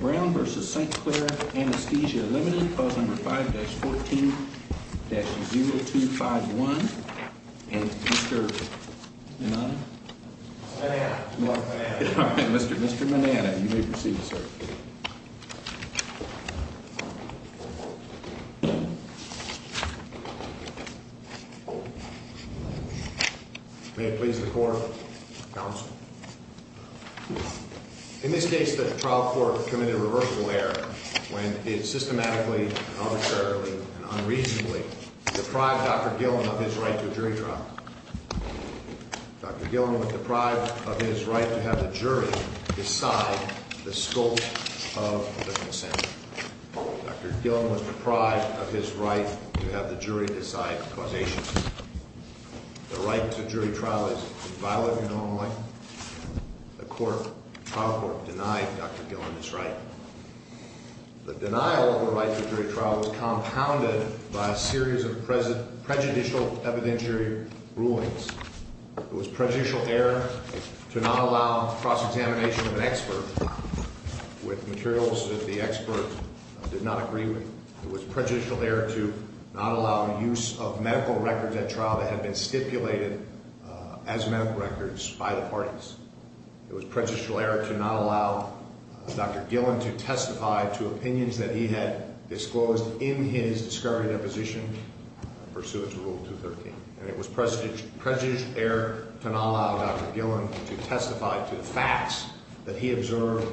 Brown v. St. Clair Anesthesia, Ltd. 5-14-0251 Mr. Manana Mr. Manana, you may proceed to serve. May it please the Court, Counsel. In this case, the trial court committed a reversible error when it systematically, arbitrarily, and unreasonably deprived Dr. Gillum of his right to a jury trial. Dr. Gillum was deprived of his right to have the jury decide the scope of the consent. Dr. Gillum was deprived of his right to have the jury decide causation. The right to jury trial is invalid and only the trial court denied Dr. Gillum this right. The denial of the right to jury trial was compounded by a series of prejudicial evidentiary rulings. It was prejudicial error to not allow cross-examination of an expert with materials that the expert did not agree with. It was prejudicial error to not allow use of medical records at trial that had been stipulated as medical records by the parties. It was prejudicial error to not allow Dr. Gillum to testify to opinions that he had disclosed in his discovery deposition pursuant to Rule 213. And it was prejudicial error to not allow Dr. Gillum to testify to the facts that he observed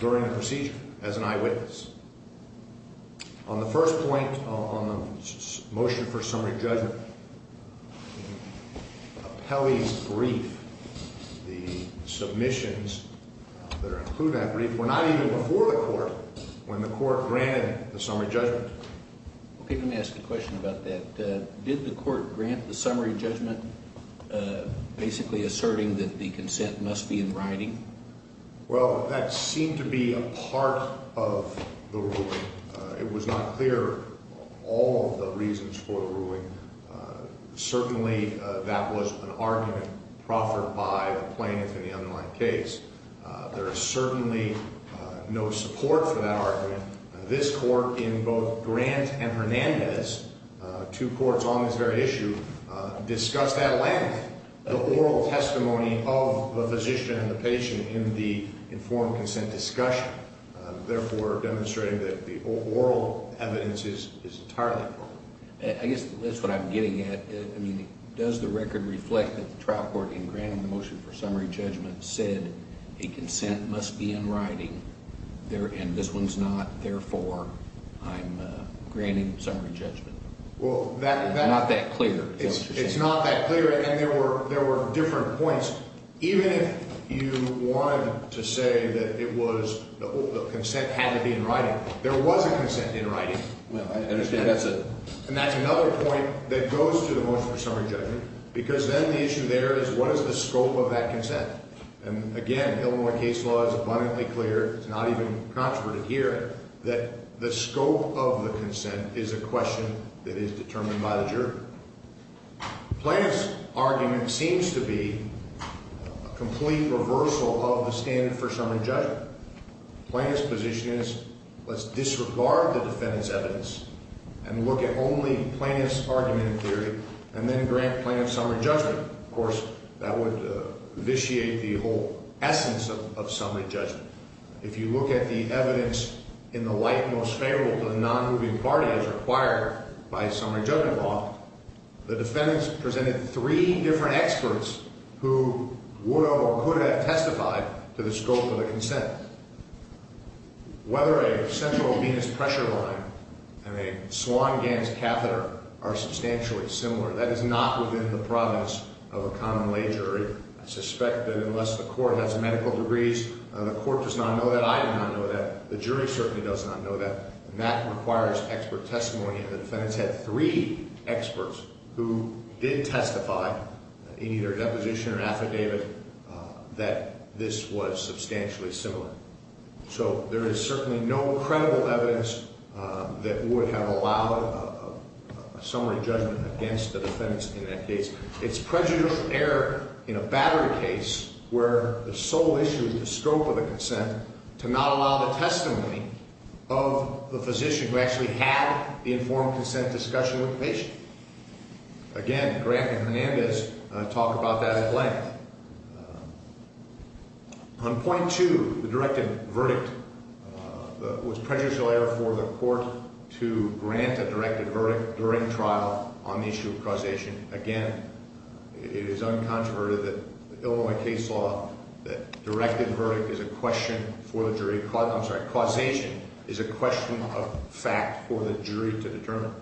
during the procedure as an eyewitness. On the first point, on the motion for summary judgment, the appellee's brief, the submissions that include that brief, were not even before the court when the court granted the summary judgment. Let me ask a question about that. Did the court grant the summary judgment basically asserting that the consent must be in writing? Well, that seemed to be a part of the ruling. It was not clear all of the reasons for the ruling. Certainly, that was an argument proffered by the plaintiff in the underlying case. There is certainly no support for that argument. This court in both Grant and Hernandez, two courts on this very issue, discussed at length the oral testimony of the physician and the patient in the informed consent discussion, therefore demonstrating that the oral evidence is entirely appropriate. I guess that's what I'm getting at. I mean, does the record reflect that the trial court in granting the motion for summary judgment said a consent must be in writing, and this one's not, therefore I'm granting summary judgment? It's not that clear. It's not that clear, and there were different points. Even if you wanted to say that the consent had to be in writing, there was a consent in writing. I understand. And that's another point that goes to the motion for summary judgment, because then the issue there is what is the scope of that consent? And again, Illinois case law is abundantly clear. It's not even controverted here that the scope of the consent is a question that is determined by the jury. The plaintiff's argument seems to be a complete reversal of the standard for summary judgment. The plaintiff's position is let's disregard the defendant's evidence and look at only the plaintiff's argument in theory, and then grant plaintiff summary judgment. Of course, that would vitiate the whole essence of summary judgment. If you look at the evidence in the light most favorable to the nonmoving party as required by summary judgment law, the defendants presented three different experts who would or could have testified to the scope of the consent. Whether a central venous pressure line and a swan gans catheter are substantially similar, that is not within the province of a common lay jury. I suspect that unless the court has medical degrees, the court does not know that. I do not know that. The jury certainly does not know that. And that requires expert testimony. And the defendants had three experts who did testify in either deposition or affidavit that this was substantially similar. So there is certainly no credible evidence that would have allowed a summary judgment against the defendants in that case. It's prejudicial error in a battery case where the sole issue is the scope of the consent to not allow the testimony of the physician who actually had the informed consent discussion with the patient. Again, Grant and Hernandez talk about that at length. On point two, the directed verdict was prejudicial error for the court to grant a directed verdict during trial on the issue of causation. Again, it is uncontroverted that Illinois case law, that directed verdict is a question for the jury. I'm sorry, causation is a question of fact for the jury to determine.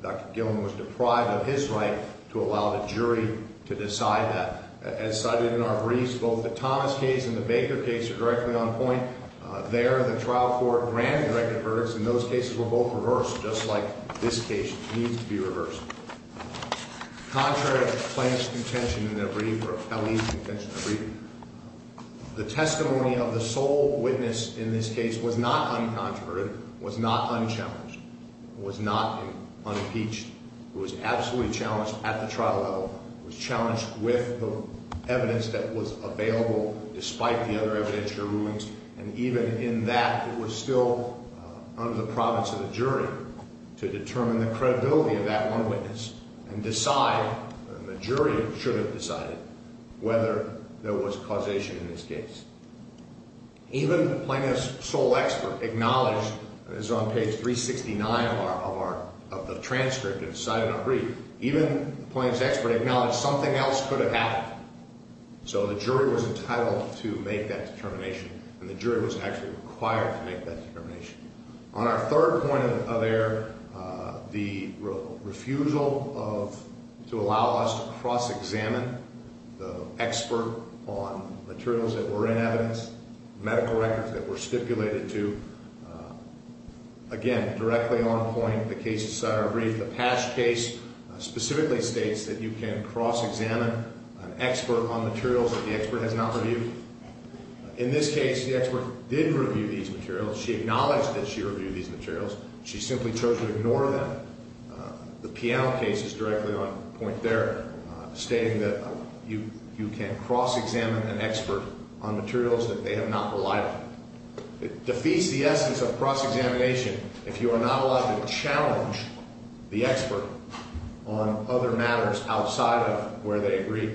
Dr. Gillen was deprived of his right to allow the jury to decide that. As cited in our briefs, both the Thomas case and the Baker case are directly on point. There, the trial court granted directed verdicts, and those cases were both reversed, just like this case needs to be reversed. Contrary to the plaintiff's contention in their brief, or at least the contention of the brief, the testimony of the sole witness in this case was not uncontroverted, was not unchallenged, was not unimpeached. It was absolutely challenged at the trial level. It was challenged with the evidence that was available despite the other evidentiary rulings. And even in that, it was still under the province of the jury to determine the credibility of that one witness and decide, and the jury should have decided, whether there was causation in this case. Even the plaintiff's sole expert acknowledged, as on page 369 of the transcript, as cited in our brief, even the plaintiff's expert acknowledged something else could have happened. So the jury was entitled to make that determination, and the jury was actually required to make that determination. On our third point of error, the refusal to allow us to cross-examine the expert on materials that were in evidence, medical records that were stipulated to, again, directly on a point the case decided in our brief. The past case specifically states that you can cross-examine an expert on materials that the expert has not reviewed. In this case, the expert did review these materials. She acknowledged that she reviewed these materials. She simply chose to ignore them. The Piano case is directly on point there, stating that you can cross-examine an expert on materials that they have not relied on. It defeats the essence of cross-examination if you are not allowed to challenge the expert on other matters outside of where they agree.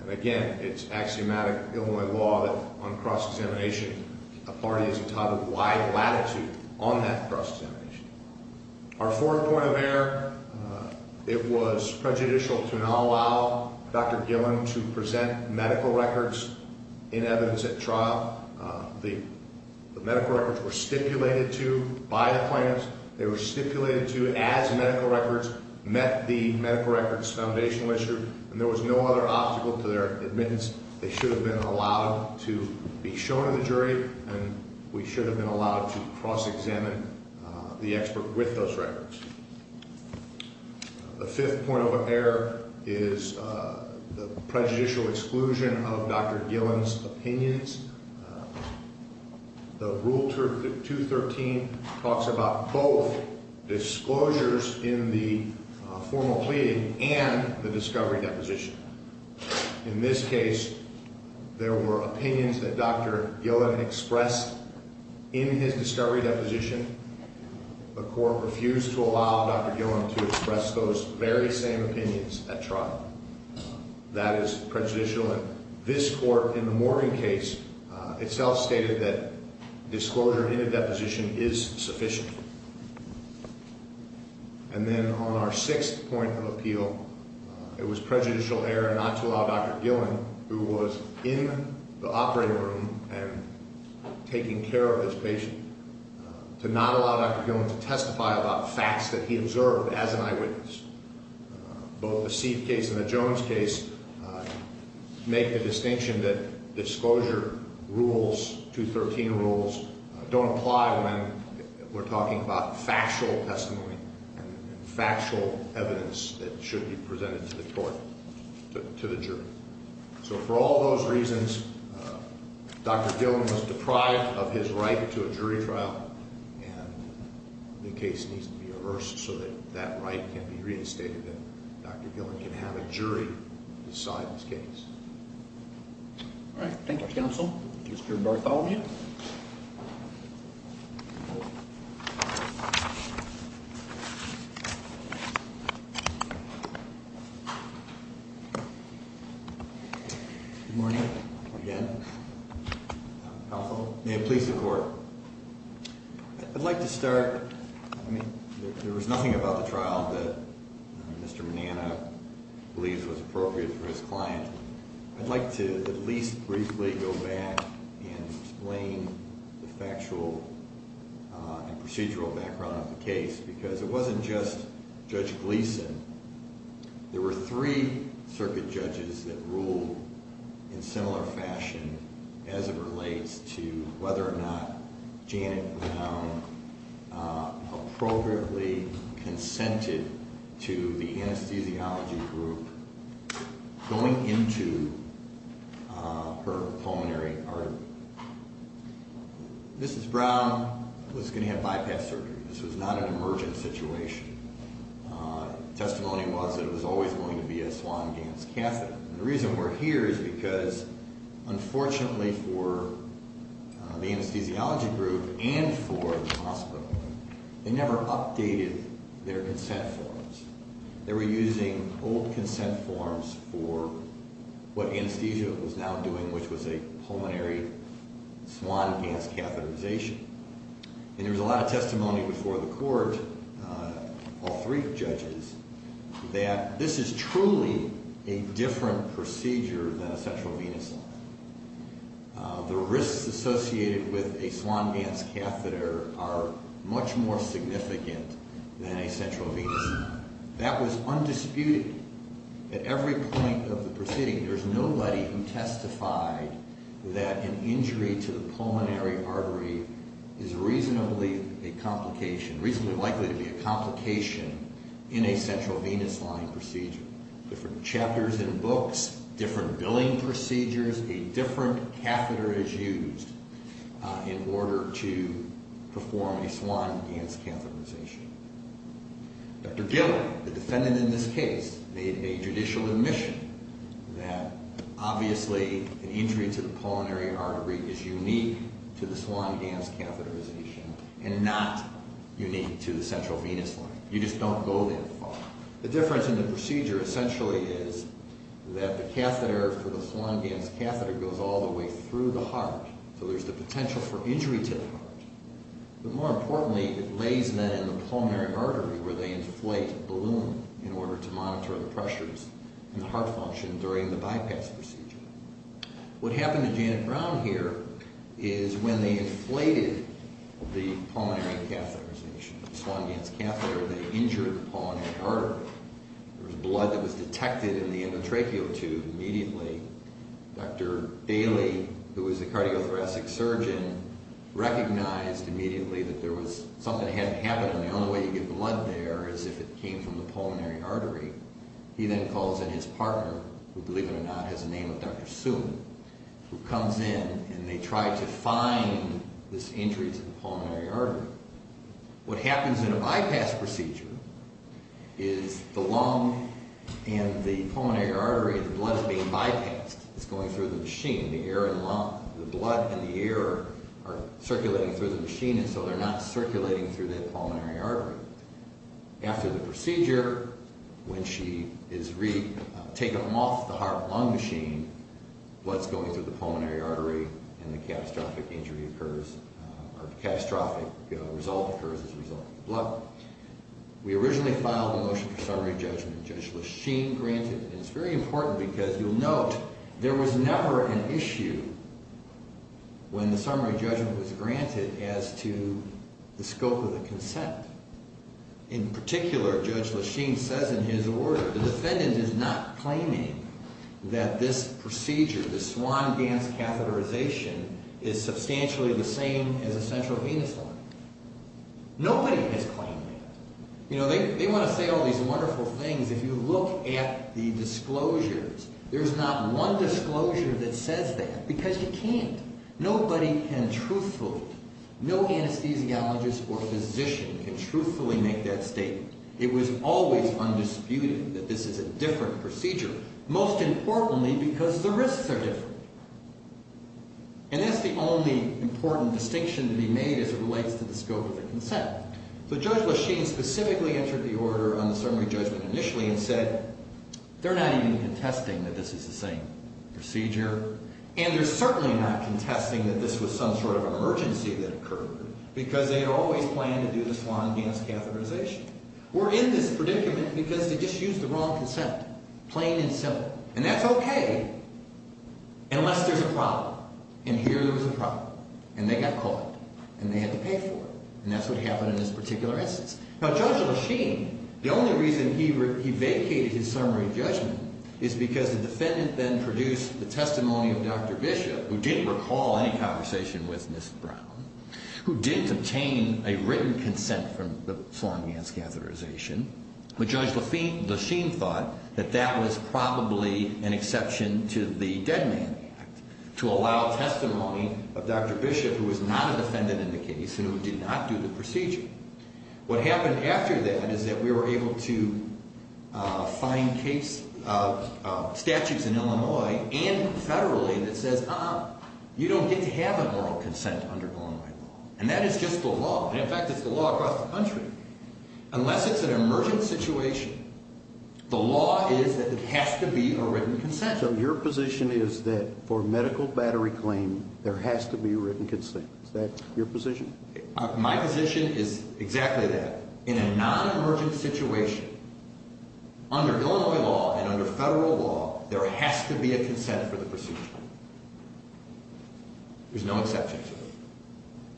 And again, it's axiomatic Illinois law that on cross-examination, a party is entitled to wide latitude on that cross-examination. Our fourth point of error, it was prejudicial to not allow Dr. Gillen to present medical records in evidence at trial. The medical records were stipulated to by the plaintiffs. They were stipulated to as medical records met the medical records foundational issue, and there was no other obstacle to their admittance. They should have been allowed to be shown to the jury, and we should have been allowed to cross-examine the expert with those records. The fifth point of error is the prejudicial exclusion of Dr. Gillen's opinions. The Rule 213 talks about both disclosures in the formal plea and the discovery deposition. In this case, there were opinions that Dr. Gillen expressed in his discovery deposition. The court refused to allow Dr. Gillen to express those very same opinions at trial. That is prejudicial, and this court in the Morgan case itself stated that disclosure in a deposition is sufficient. And then on our sixth point of appeal, it was prejudicial error not to allow Dr. Gillen, who was in the operating room and taking care of this patient, to not allow Dr. Gillen to testify about facts that he observed as an eyewitness. Both the Seed case and the Jones case make the distinction that disclosure rules, 213 rules, don't apply when we're talking about factual testimony and factual evidence that should be presented to the court, to the jury. So for all those reasons, Dr. Gillen was deprived of his right to a jury trial, and the case needs to be reversed so that that right can be reinstated and Dr. Gillen can have a jury decide this case. All right, thank you, counsel. Mr. Bartholomew. Good morning, again. May it please the court. I'd like to start, I mean, there was nothing about the trial that Mr. Manana believes was appropriate for his client. I'd like to at least briefly go back and explain the factual and procedural background of the case, because it wasn't just Judge Gleeson. There were three circuit judges that ruled in similar fashion as it relates to whether or not Janet Brown appropriately consented to the anesthesiology group going into her pulmonary artery. Mrs. Brown was going to have bypass surgery. This was not an emergent situation. The testimony was that it was always going to be a swan-gance catheter. And the reason we're here is because, unfortunately for the anesthesiology group and for the hospital, they never updated their consent forms. They were using old consent forms for what anesthesia was now doing, which was a pulmonary swan-gance catheterization. And there was a lot of testimony before the court, all three judges, that this is truly a different procedure than a central venous line. The risks associated with a swan-gance catheter are much more significant than a central venous line. That was undisputed. At every point of the proceeding, there's nobody who testified that an injury to the pulmonary artery is reasonably likely to be a complication in a central venous line procedure. Different chapters in books, different billing procedures, a different catheter is used in order to perform a swan-gance catheterization. Dr. Gillard, the defendant in this case, made a judicial admission that obviously an injury to the pulmonary artery is unique to the swan-gance catheterization and not unique to the central venous line. You just don't go that far. The difference in the procedure essentially is that the catheter for the swan-gance catheter goes all the way through the heart. So there's the potential for injury to the heart. But more importantly, it lays men in the pulmonary artery where they inflate a balloon in order to monitor the pressures in the heart function during the bypass procedure. What happened to Janet Brown here is when they inflated the pulmonary catheterization of the swan-gance catheter, they injured the pulmonary artery. There was blood that was detected in the endotracheal tube immediately. Dr. Bailey, who is a cardiothoracic surgeon, recognized immediately that something had happened and the only way you get blood there is if it came from the pulmonary artery. He then calls in his partner, who believe it or not has a name of Dr. Soon, who comes in and they try to find this injury to the pulmonary artery. What happens in a bypass procedure is the lung and the pulmonary artery, the blood is being bypassed. It's going through the machine. The air and lung, the blood and the air are circulating through the machine and so they're not circulating through that pulmonary artery. After the procedure, when she is taken off the heart-lung machine, blood is going through the pulmonary artery and the catastrophic result occurs as a result of the blood. We originally filed a motion for summary judgment, Judge Lesheen granted, and it's very important because you'll note there was never an issue when the summary judgment was granted as to the scope of the consent. In particular, Judge Lesheen says in his order, the defendant is not claiming that this procedure, the swan-gance catheterization, is substantially the same as a central venous line. Nobody has claimed that. They want to say all these wonderful things. If you look at the disclosures, there's not one disclosure that says that because you can't. Nobody can truthfully, no anesthesiologist or physician can truthfully make that statement. It was always undisputed that this is a different procedure, most importantly because the risks are different. And that's the only important distinction to be made as it relates to the scope of the consent. So Judge Lesheen specifically entered the order on the summary judgment initially and said, they're not even contesting that this is the same procedure. And they're certainly not contesting that this was some sort of emergency that occurred because they had always planned to do the swan-gance catheterization. We're in this predicament because they just used the wrong consent, plain and simple. And that's okay unless there's a problem. And here there was a problem. And they got caught. And they had to pay for it. And that's what happened in this particular instance. Now Judge Lesheen, the only reason he vacated his summary judgment is because the defendant then produced the testimony of Dr. Bishop, who didn't recall any conversation with Ms. Brown, who didn't obtain a written consent from the swan-gance catheterization. But Judge Lesheen thought that that was probably an exception to the Dead Man Act to allow testimony of Dr. Bishop, who was not a defendant in the case and who did not do the procedure. What happened after that is that we were able to find statutes in Illinois and federally that says, ah, you don't get to have a moral consent under Illinois law. And that is just the law. And in fact, it's the law across the country. Unless it's an emergent situation, the law is that it has to be a written consent. So your position is that for medical battery claim, there has to be written consent. Is that your position? My position is exactly that. In a non-emergent situation, under Illinois law and under federal law, there has to be a consent for the procedure. There's no exception to it.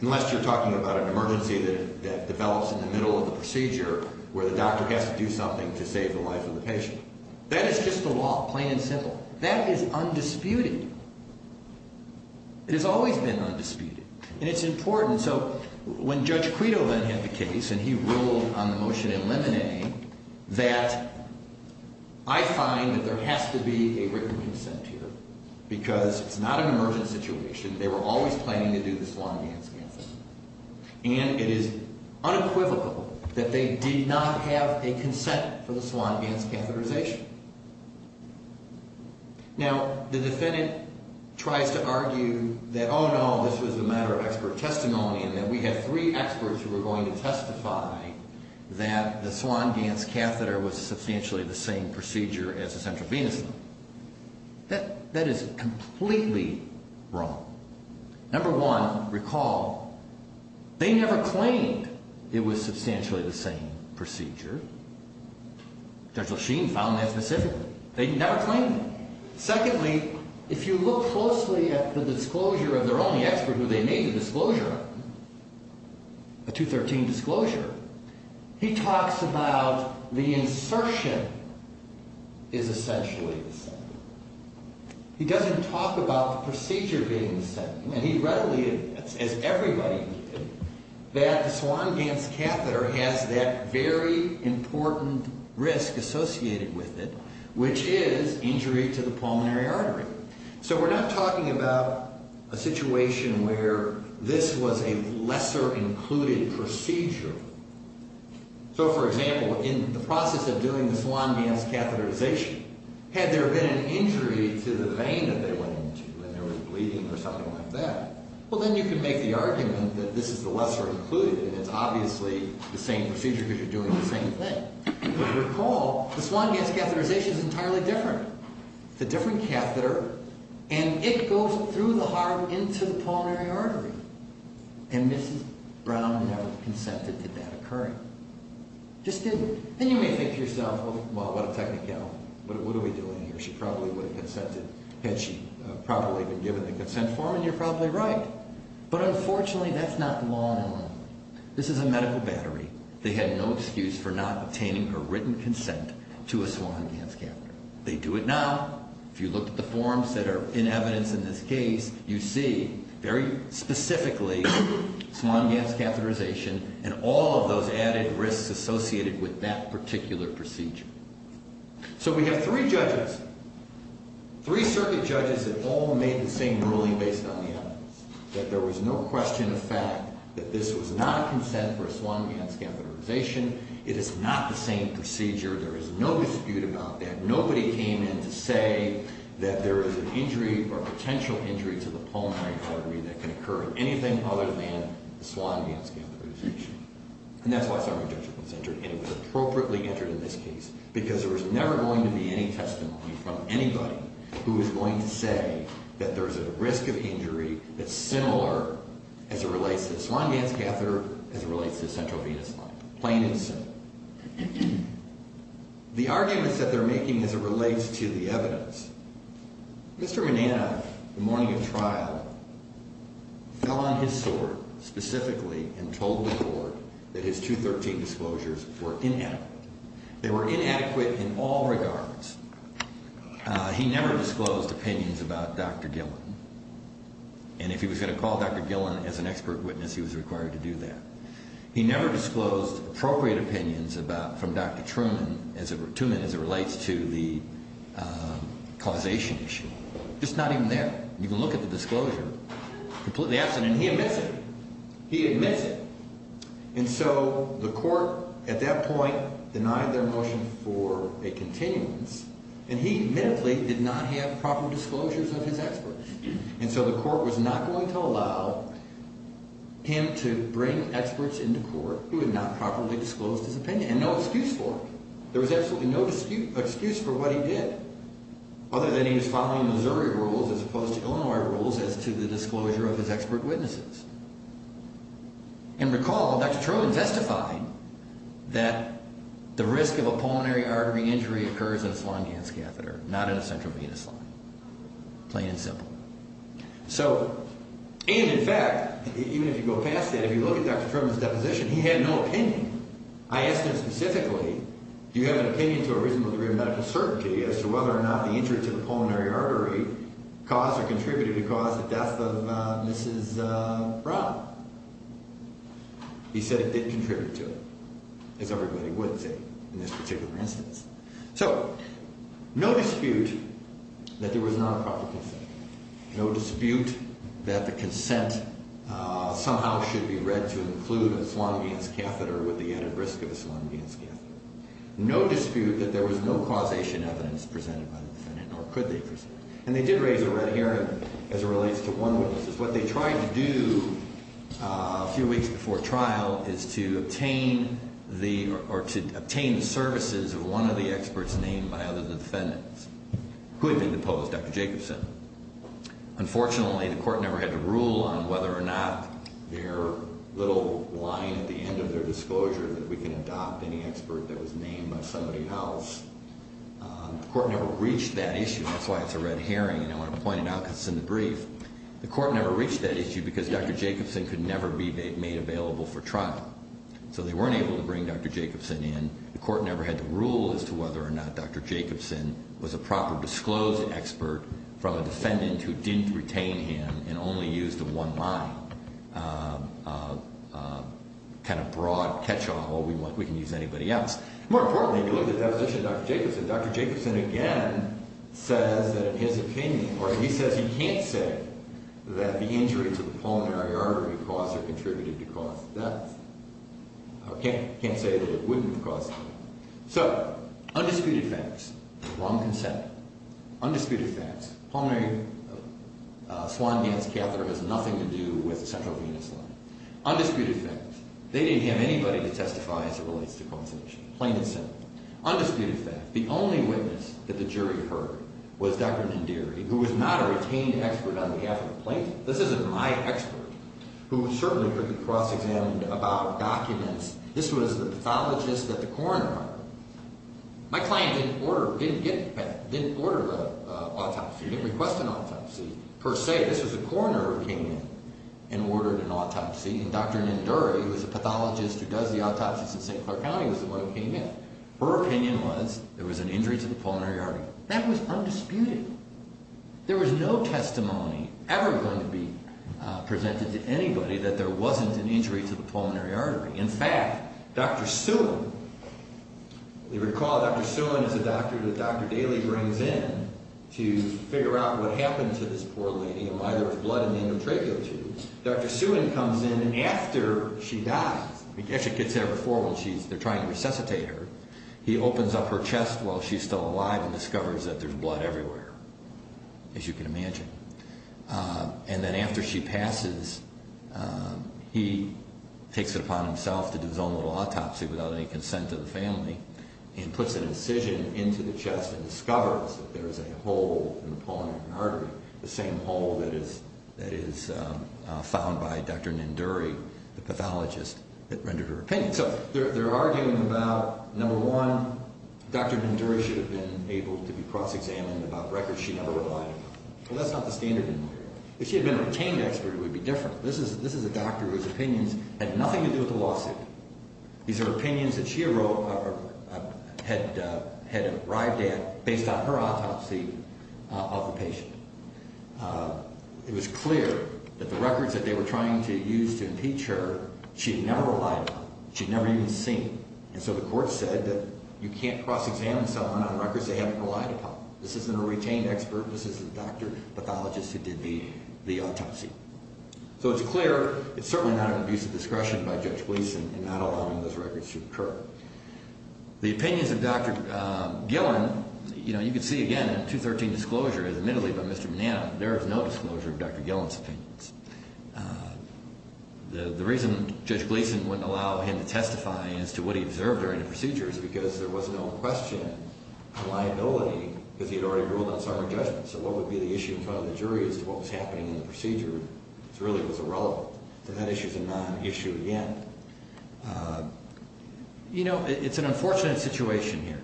Unless you're talking about an emergency that develops in the middle of the procedure where the doctor has to do something to save the life of the patient. That is just the law, plain and simple. That is undisputed. It has always been undisputed. And it's important. So when Judge Quito then had the case, and he ruled on the motion in Lemonet, that I find that there has to be a written consent here. Because it's not an emergent situation. They were always planning to do the Sloan-Ganz catheterization. And it is unequivocal that they did not have a consent for the Sloan-Ganz catheterization. Now, the defendant tries to argue that, oh no, this was a matter of expert testimony and that we had three experts who were going to testify that the Sloan-Ganz catheter was substantially the same procedure as the central venous loop. That is completely wrong. Number one, recall, they never claimed it was substantially the same procedure. Judge Lasheen found that specifically. They never claimed it. Secondly, if you look closely at the disclosure of their only expert who they made the disclosure of, a 213 disclosure, he talks about the insertion is essentially the same. He doesn't talk about the procedure being the same. And he readily admits, as everybody did, that the Sloan-Ganz catheter has that very important risk associated with it, which is injury to the pulmonary artery. So we're not talking about a situation where this was a lesser included procedure. So, for example, in the process of doing the Sloan-Ganz catheterization, had there been an injury to the vein that they went into when they were bleeding or something like that, well, then you can make the argument that this is the lesser included and it's obviously the same procedure because you're doing the same thing. But recall, the Sloan-Ganz catheterization is entirely different. It's a different catheter and it goes through the heart into the pulmonary artery. And Mrs. Brown never consented to that occurring. Just didn't. And you may think to yourself, well, what a technicality. What are we doing here? She probably would have consented had she properly been given the consent form, and you're probably right. But unfortunately, that's not the law in Illinois. This is a medical battery. They had no excuse for not obtaining her written consent to a Sloan-Ganz catheter. They do it now. If you look at the forms that are in evidence in this case, you see very specifically Sloan-Ganz catheterization and all of those added risks associated with that particular procedure. So we have three judges, three circuit judges that all made the same ruling based on the evidence, that there was no question of fact that this was not consent for a Sloan-Ganz catheterization. It is not the same procedure. There is no dispute about that. But nobody came in to say that there is an injury or potential injury to the pulmonary artery that can occur in anything other than the Sloan-Ganz catheterization. And that's why so many judges were consented, and it was appropriately entered in this case. Because there is never going to be any testimony from anybody who is going to say that there is a risk of injury that's similar as it relates to the Sloan-Ganz catheter, as it relates to the central venous line. Plain and simple. The arguments that they're making as it relates to the evidence, Mr. Manana, the morning of trial, fell on his sword specifically and told the court that his 213 disclosures were inadequate. They were inadequate in all regards. He never disclosed opinions about Dr. Gillen. And if he was going to call Dr. Gillen as an expert witness, he was required to do that. He never disclosed appropriate opinions from Dr. Truman as it relates to the causation issue. Just not even there. You can look at the disclosure, completely absent, and he admits it. He admits it. And so the court at that point denied their motion for a continuance, and he admittedly did not have proper disclosures of his experts. And so the court was not going to allow him to bring experts into court who had not properly disclosed his opinion. And no excuse for it. There was absolutely no excuse for what he did, other than he was following Missouri rules as opposed to Illinois rules as to the disclosure of his expert witnesses. And recall, Dr. Truman testified that the risk of a pulmonary artery injury occurs in a slung hand scatheter, not in a central venous line. Plain and simple. So, and in fact, even if you go past that, if you look at Dr. Truman's deposition, he had no opinion. I asked him specifically, do you have an opinion to a reasonable degree of medical certainty as to whether or not the injury to the pulmonary artery caused or contributed to cause the death of Mrs. Brown? He said it did contribute to it, as everybody would say in this particular instance. So, no dispute that there was not a proper consent. No dispute that the consent somehow should be read to include a slung hand scatheter with the added risk of a slung hand scatheter. No dispute that there was no causation evidence presented by the defendant, nor could they present it. And they did raise a red herring as it relates to one witness. What they tried to do a few weeks before trial is to obtain the, or to obtain the services of one of the experts named by other than the defendants, who had been deposed, Dr. Jacobson. Unfortunately, the court never had to rule on whether or not their little line at the end of their disclosure that we can adopt any expert that was named by somebody else. The court never reached that issue. That's why it's a red herring, and I want to point it out because it's in the brief. The court never reached that issue because Dr. Jacobson could never be made available for trial. So they weren't able to bring Dr. Jacobson in. The court never had to rule as to whether or not Dr. Jacobson was a proper disclosed expert from a defendant who didn't retain him and only used the one line. Kind of broad catch-all, we can use anybody else. More importantly, if you look at the deposition of Dr. Jacobson, Dr. Jacobson again says that in his opinion, or he says he can't say that the injury to the pulmonary artery caused or contributed to cause death. He can't say that it wouldn't have caused death. So, undisputed facts. Wrong consent. Undisputed facts. Pulmonary swan dance catheter has nothing to do with the central venous line. Undisputed facts. They didn't have anybody to testify as it relates to consultation. Plain and simple. Undisputed facts. The only witness that the jury heard was Dr. Nanduri, who was not a retained expert on behalf of the plaintiff. This isn't my expert, who certainly could be cross-examined about documents. This was the pathologist at the coroner. My client didn't order, didn't get, didn't order an autopsy, didn't request an autopsy, per se. This was a coroner who came in and ordered an autopsy. And Dr. Nanduri, who is a pathologist who does the autopsies in St. Clair County, was the one who came in. Her opinion was, there was an injury to the pulmonary artery. That was undisputed. There was no testimony ever going to be presented to anybody that there wasn't an injury to the pulmonary artery. In fact, Dr. Suen, you recall Dr. Suen is a doctor that Dr. Daly brings in to figure out what happened to this poor lady. A mother of blood and endometriosis. Dr. Suen comes in and after she dies, actually gets there before when they're trying to resuscitate her, he opens up her chest while she's still alive and discovers that there's blood everywhere, as you can imagine. And then after she passes, he takes it upon himself to do his own little autopsy without any consent of the family and puts an incision into the chest and discovers that there is a hole in the pulmonary artery, the same hole that is found by Dr. Nanduri, the pathologist that rendered her opinion. So they're arguing about, number one, Dr. Nanduri should have been able to be cross-examined about records she never provided. Well, that's not the standard anymore. If she had been a retained expert, it would be different. This is a doctor whose opinions had nothing to do with the lawsuit. These are opinions that she had arrived at based on her autopsy of the patient. It was clear that the records that they were trying to use to impeach her, she had never relied upon. She had never even seen. And so the court said that you can't cross-examine someone on records they haven't relied upon. This isn't a retained expert. This is a doctor, pathologist who did the autopsy. So it's clear it's certainly not an abuse of discretion by Judge Gleason in not allowing those records to occur. The opinions of Dr. Gillen, you know, you can see again in the 213 disclosure, admittedly by Mr. Nanduri, there is no disclosure of Dr. Gillen's opinions. The reason Judge Gleason wouldn't allow him to testify as to what he observed during the procedure is because there was no question of liability because he had already ruled on sovereign judgment. So what would be the issue in front of the jury as to what was happening in the procedure really was irrelevant. So that issue is a non-issue again. So, you know, it's an unfortunate situation here.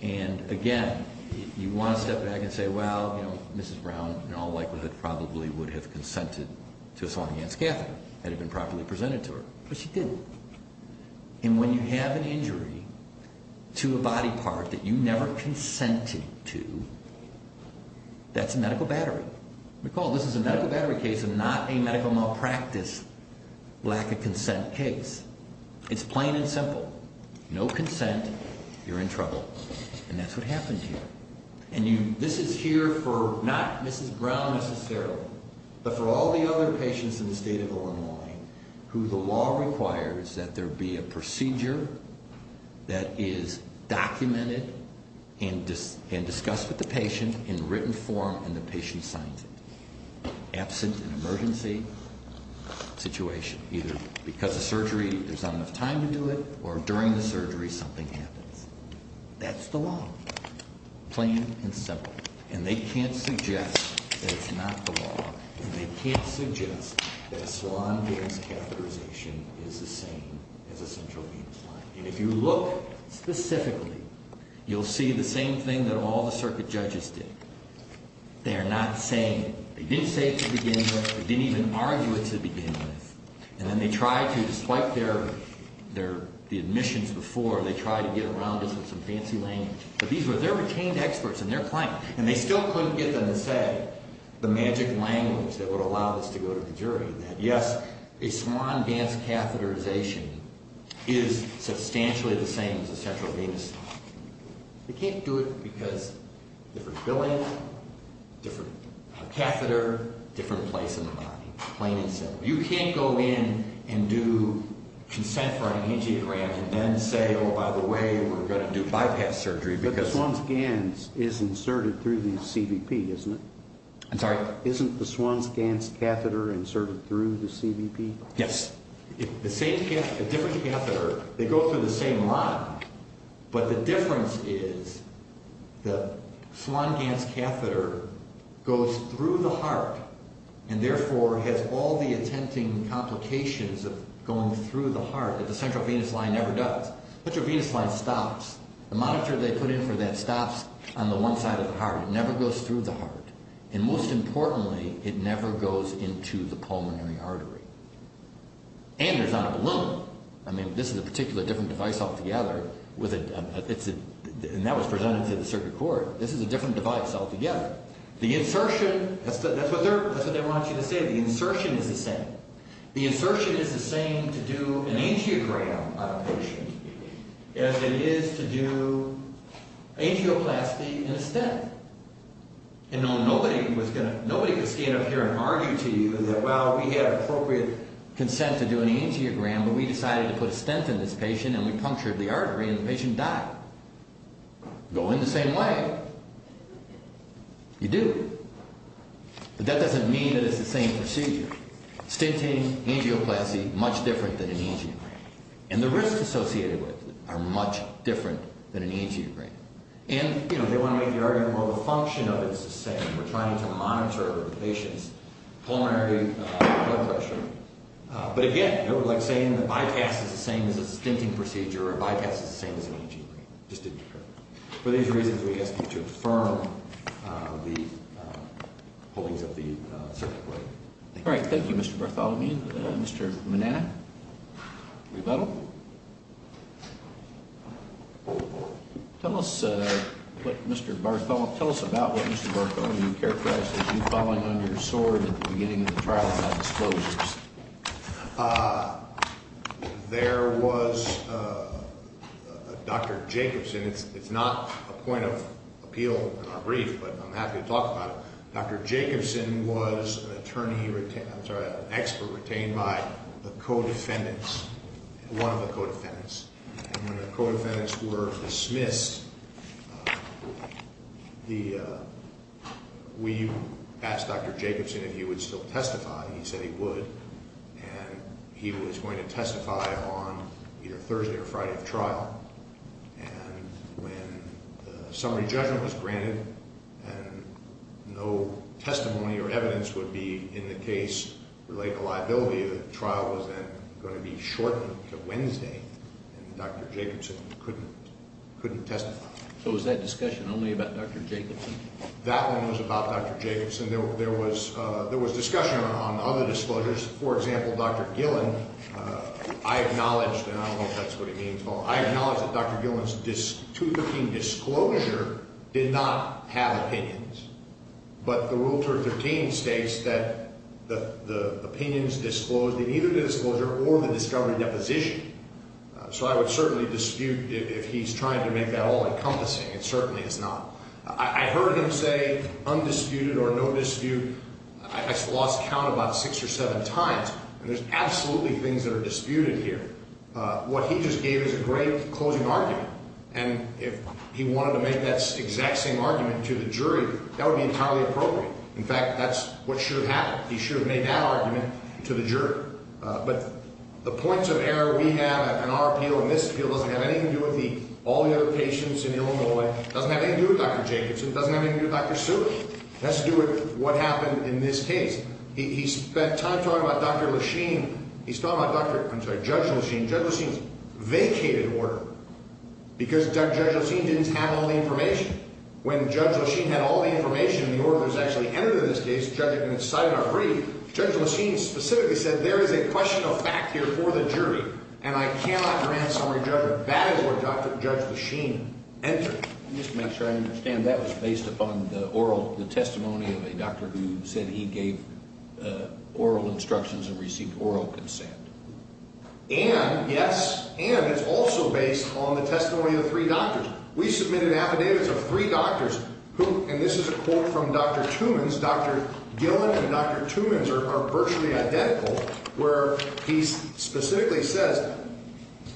And, again, you want to step back and say, well, you know, Mrs. Brown in all likelihood probably would have consented to assaulting Anne Scather had it been properly presented to her. But she didn't. And when you have an injury to a body part that you never consented to, that's a medical battery. Recall, this is a medical battery case and not a medical malpractice lack of consent case. It's plain and simple. No consent, you're in trouble. And that's what happened here. And this is here for not Mrs. Brown necessarily, but for all the other patients in the state of Illinois who the law requires that there be a procedure that is documented and discussed with the patient in written form and the patient signs it. Absent an emergency situation, either because of surgery there's not enough time to do it or during the surgery something happens. That's the law. It's plain and simple. And they can't suggest that it's not the law. And they can't suggest that a Swan-Gillis catheterization is the same as a central venous line. And if you look specifically, you'll see the same thing that all the circuit judges did. They are not saying it. They didn't say it to begin with. They didn't even argue it to begin with. And then they tried to, despite their, their, the admissions before, they tried to get around us with some fancy language. But these were their retained experts and their clients. And they still couldn't get them to say the magic language that would allow us to go to the jury that yes, a Swan-Gillis catheterization is substantially the same as a central venous line. They can't do it because different billing, different catheter, different place in the body. Plain and simple. You can't go in and do consent for an angiogram and then say, oh, by the way, we're going to do bypass surgery because. But the Swan's GANS is inserted through the CVP, isn't it? I'm sorry? Isn't the Swan's GANS catheter inserted through the CVP? Yes. The same cath, a different catheter. They go through the same line. But the difference is the Swan's GANS catheter goes through the heart and therefore has all the attempting complications of going through the heart that the central venous line never does. The central venous line stops. The monitor they put in for that stops on the one side of the heart. It never goes through the heart. And most importantly, it never goes into the pulmonary artery. And there's not a balloon. I mean, this is a particular different device altogether. And that was presented to the circuit court. This is a different device altogether. The insertion, that's what they want you to say. The insertion is the same. The insertion is the same to do an angiogram on a patient as it is to do angioplasty in a stent. And nobody could stand up here and argue to you that, well, we have appropriate consent to do an angiogram, but we decided to put a stent in this patient and we punctured the artery and the patient died. Go in the same way. You do. But that doesn't mean that it's the same procedure. Stenting, angioplasty, much different than an angiogram. And the risks associated with it are much different than an angiogram. And, you know, they want to make the argument, well, the function of it is the same. We're trying to monitor the patient's pulmonary blood pressure. But again, we're like saying the bypass is the same as a stenting procedure or a bypass is the same as an angiogram. It just didn't occur. For these reasons, we ask you to affirm the holdings of the circuit court. All right. Thank you, Mr. Bartholomew. Mr. Manana, rebuttal. Tell us, Mr. Bartholomew, tell us about what Mr. Bartholomew characterized as you falling on your sword at the beginning of the trial about disclosures. There was Dr. Jacobson. It's not a point of appeal in our brief, but I'm happy to talk about it. Dr. Jacobson was an attorney, I'm sorry, an expert retained by the co-defendants, one of the co-defendants. And when the co-defendants were dismissed, we asked Dr. Jacobson if he would still testify. He said he would. And he was going to testify on either Thursday or Friday of trial. And when the summary judgment was granted and no testimony or evidence would be in the case relating to liability, the trial was then going to be shortened to Wednesday. And Dr. Jacobson couldn't testify. So was that discussion only about Dr. Jacobson? That one was about Dr. Jacobson. There was discussion on other disclosures. For example, Dr. Gillen, I acknowledge, and I don't know if that's what he means, but I acknowledge that Dr. Gillen's 2013 disclosure did not have opinions. But the Rule 13 states that the opinions disclosed in either disclosure or the discovery deposition. So I would certainly dispute if he's trying to make that all encompassing. It certainly is not. I heard him say undisputed or no dispute. I lost count about six or seven times. And there's absolutely things that are disputed here. What he just gave is a great closing argument. And if he wanted to make that exact same argument to the jury, that would be entirely appropriate. In fact, that's what should have happened. He should have made that argument to the jury. But the points of error we have in our appeal and this appeal doesn't have anything to do with all the other patients in Illinois. It doesn't have anything to do with Dr. Jacobson. It doesn't have anything to do with Dr. Seward. It has to do with what happened in this case. He spent time talking about Dr. Lachine. He's talking about Judge Lachine. Judge Lachine's vacated order because Judge Lachine didn't have all the information. When Judge Lachine had all the information, the order was actually entered in this case. Judge Lachine specifically said there is a question of fact here for the jury. And I cannot grant summary judgment. That is where Judge Lachine entered. Just to make sure I understand, that was based upon the oral testimony of a doctor who said he gave oral instructions and received oral consent. And, yes, and it's also based on the testimony of three doctors. We submitted affidavits of three doctors who, and this is a quote from Dr. Tumans, Gillen and Dr. Tumans are virtually identical where he specifically says,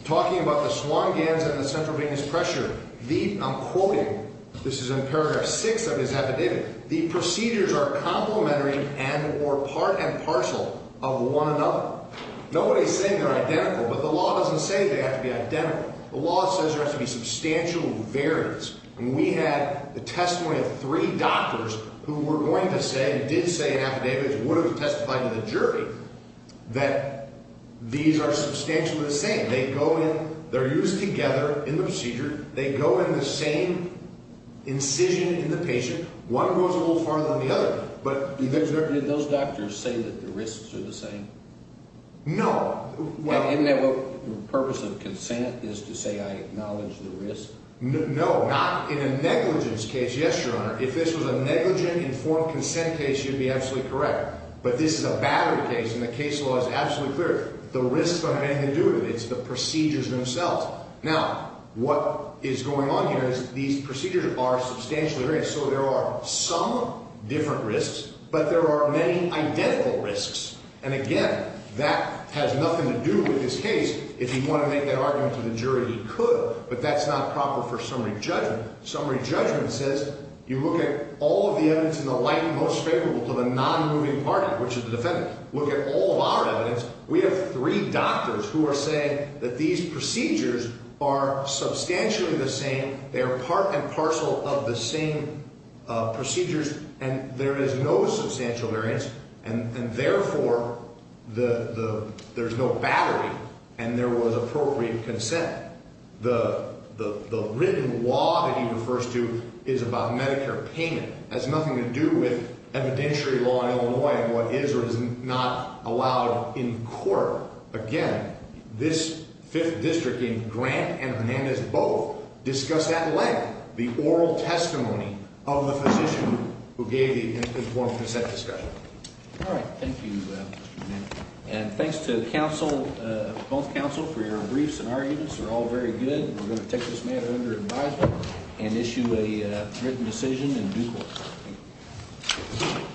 talking about the swan gans and the central venous pressure, I'm quoting, this is in paragraph six of his affidavit, the procedures are complementary and or part and parcel of one another. Nobody's saying they're identical, but the law doesn't say they have to be identical. The law says there has to be substantial variance. And we had the testimony of three doctors who were going to say, and did say in affidavits and would have testified to the jury, that these are substantially the same. They go in, they're used together in the procedure. They go in the same incision in the patient. One goes a little farther than the other. Did those doctors say that the risks are the same? No. Isn't that what the purpose of consent is to say I acknowledge the risk? No, not in a negligence case. Yes, Your Honor, if this was a negligent informed consent case, you'd be absolutely correct. But this is a battery case and the case law is absolutely clear. The risks don't have anything to do with it. It's the procedures themselves. Now, what is going on here is these procedures are substantially variant. So there are some different risks, but there are many identical risks. And again, that has nothing to do with this case. If he wanted to make that argument to the jury, he could. But that's not proper for summary judgment. Summary judgment says you look at all of the evidence in the light most favorable to the non-moving party, which is the defendant. Look at all of our evidence. We have three doctors who are saying that these procedures are substantially the same. They are part and parcel of the same procedures. And there is no substantial variance. And therefore, there's no battery and there was appropriate consent. The written law that he refers to is about Medicare payment. It has nothing to do with evidentiary law in Illinois and what is or is not allowed in court. Again, this 5th District in Grant and Hernandez both discussed at length the oral testimony of the physician who gave the informed consent discussion. All right. Thank you, Mr. Manning. And thanks to both counsel for your briefs and arguments. They're all very good. We're going to take this matter under advisement and issue a written decision in due course.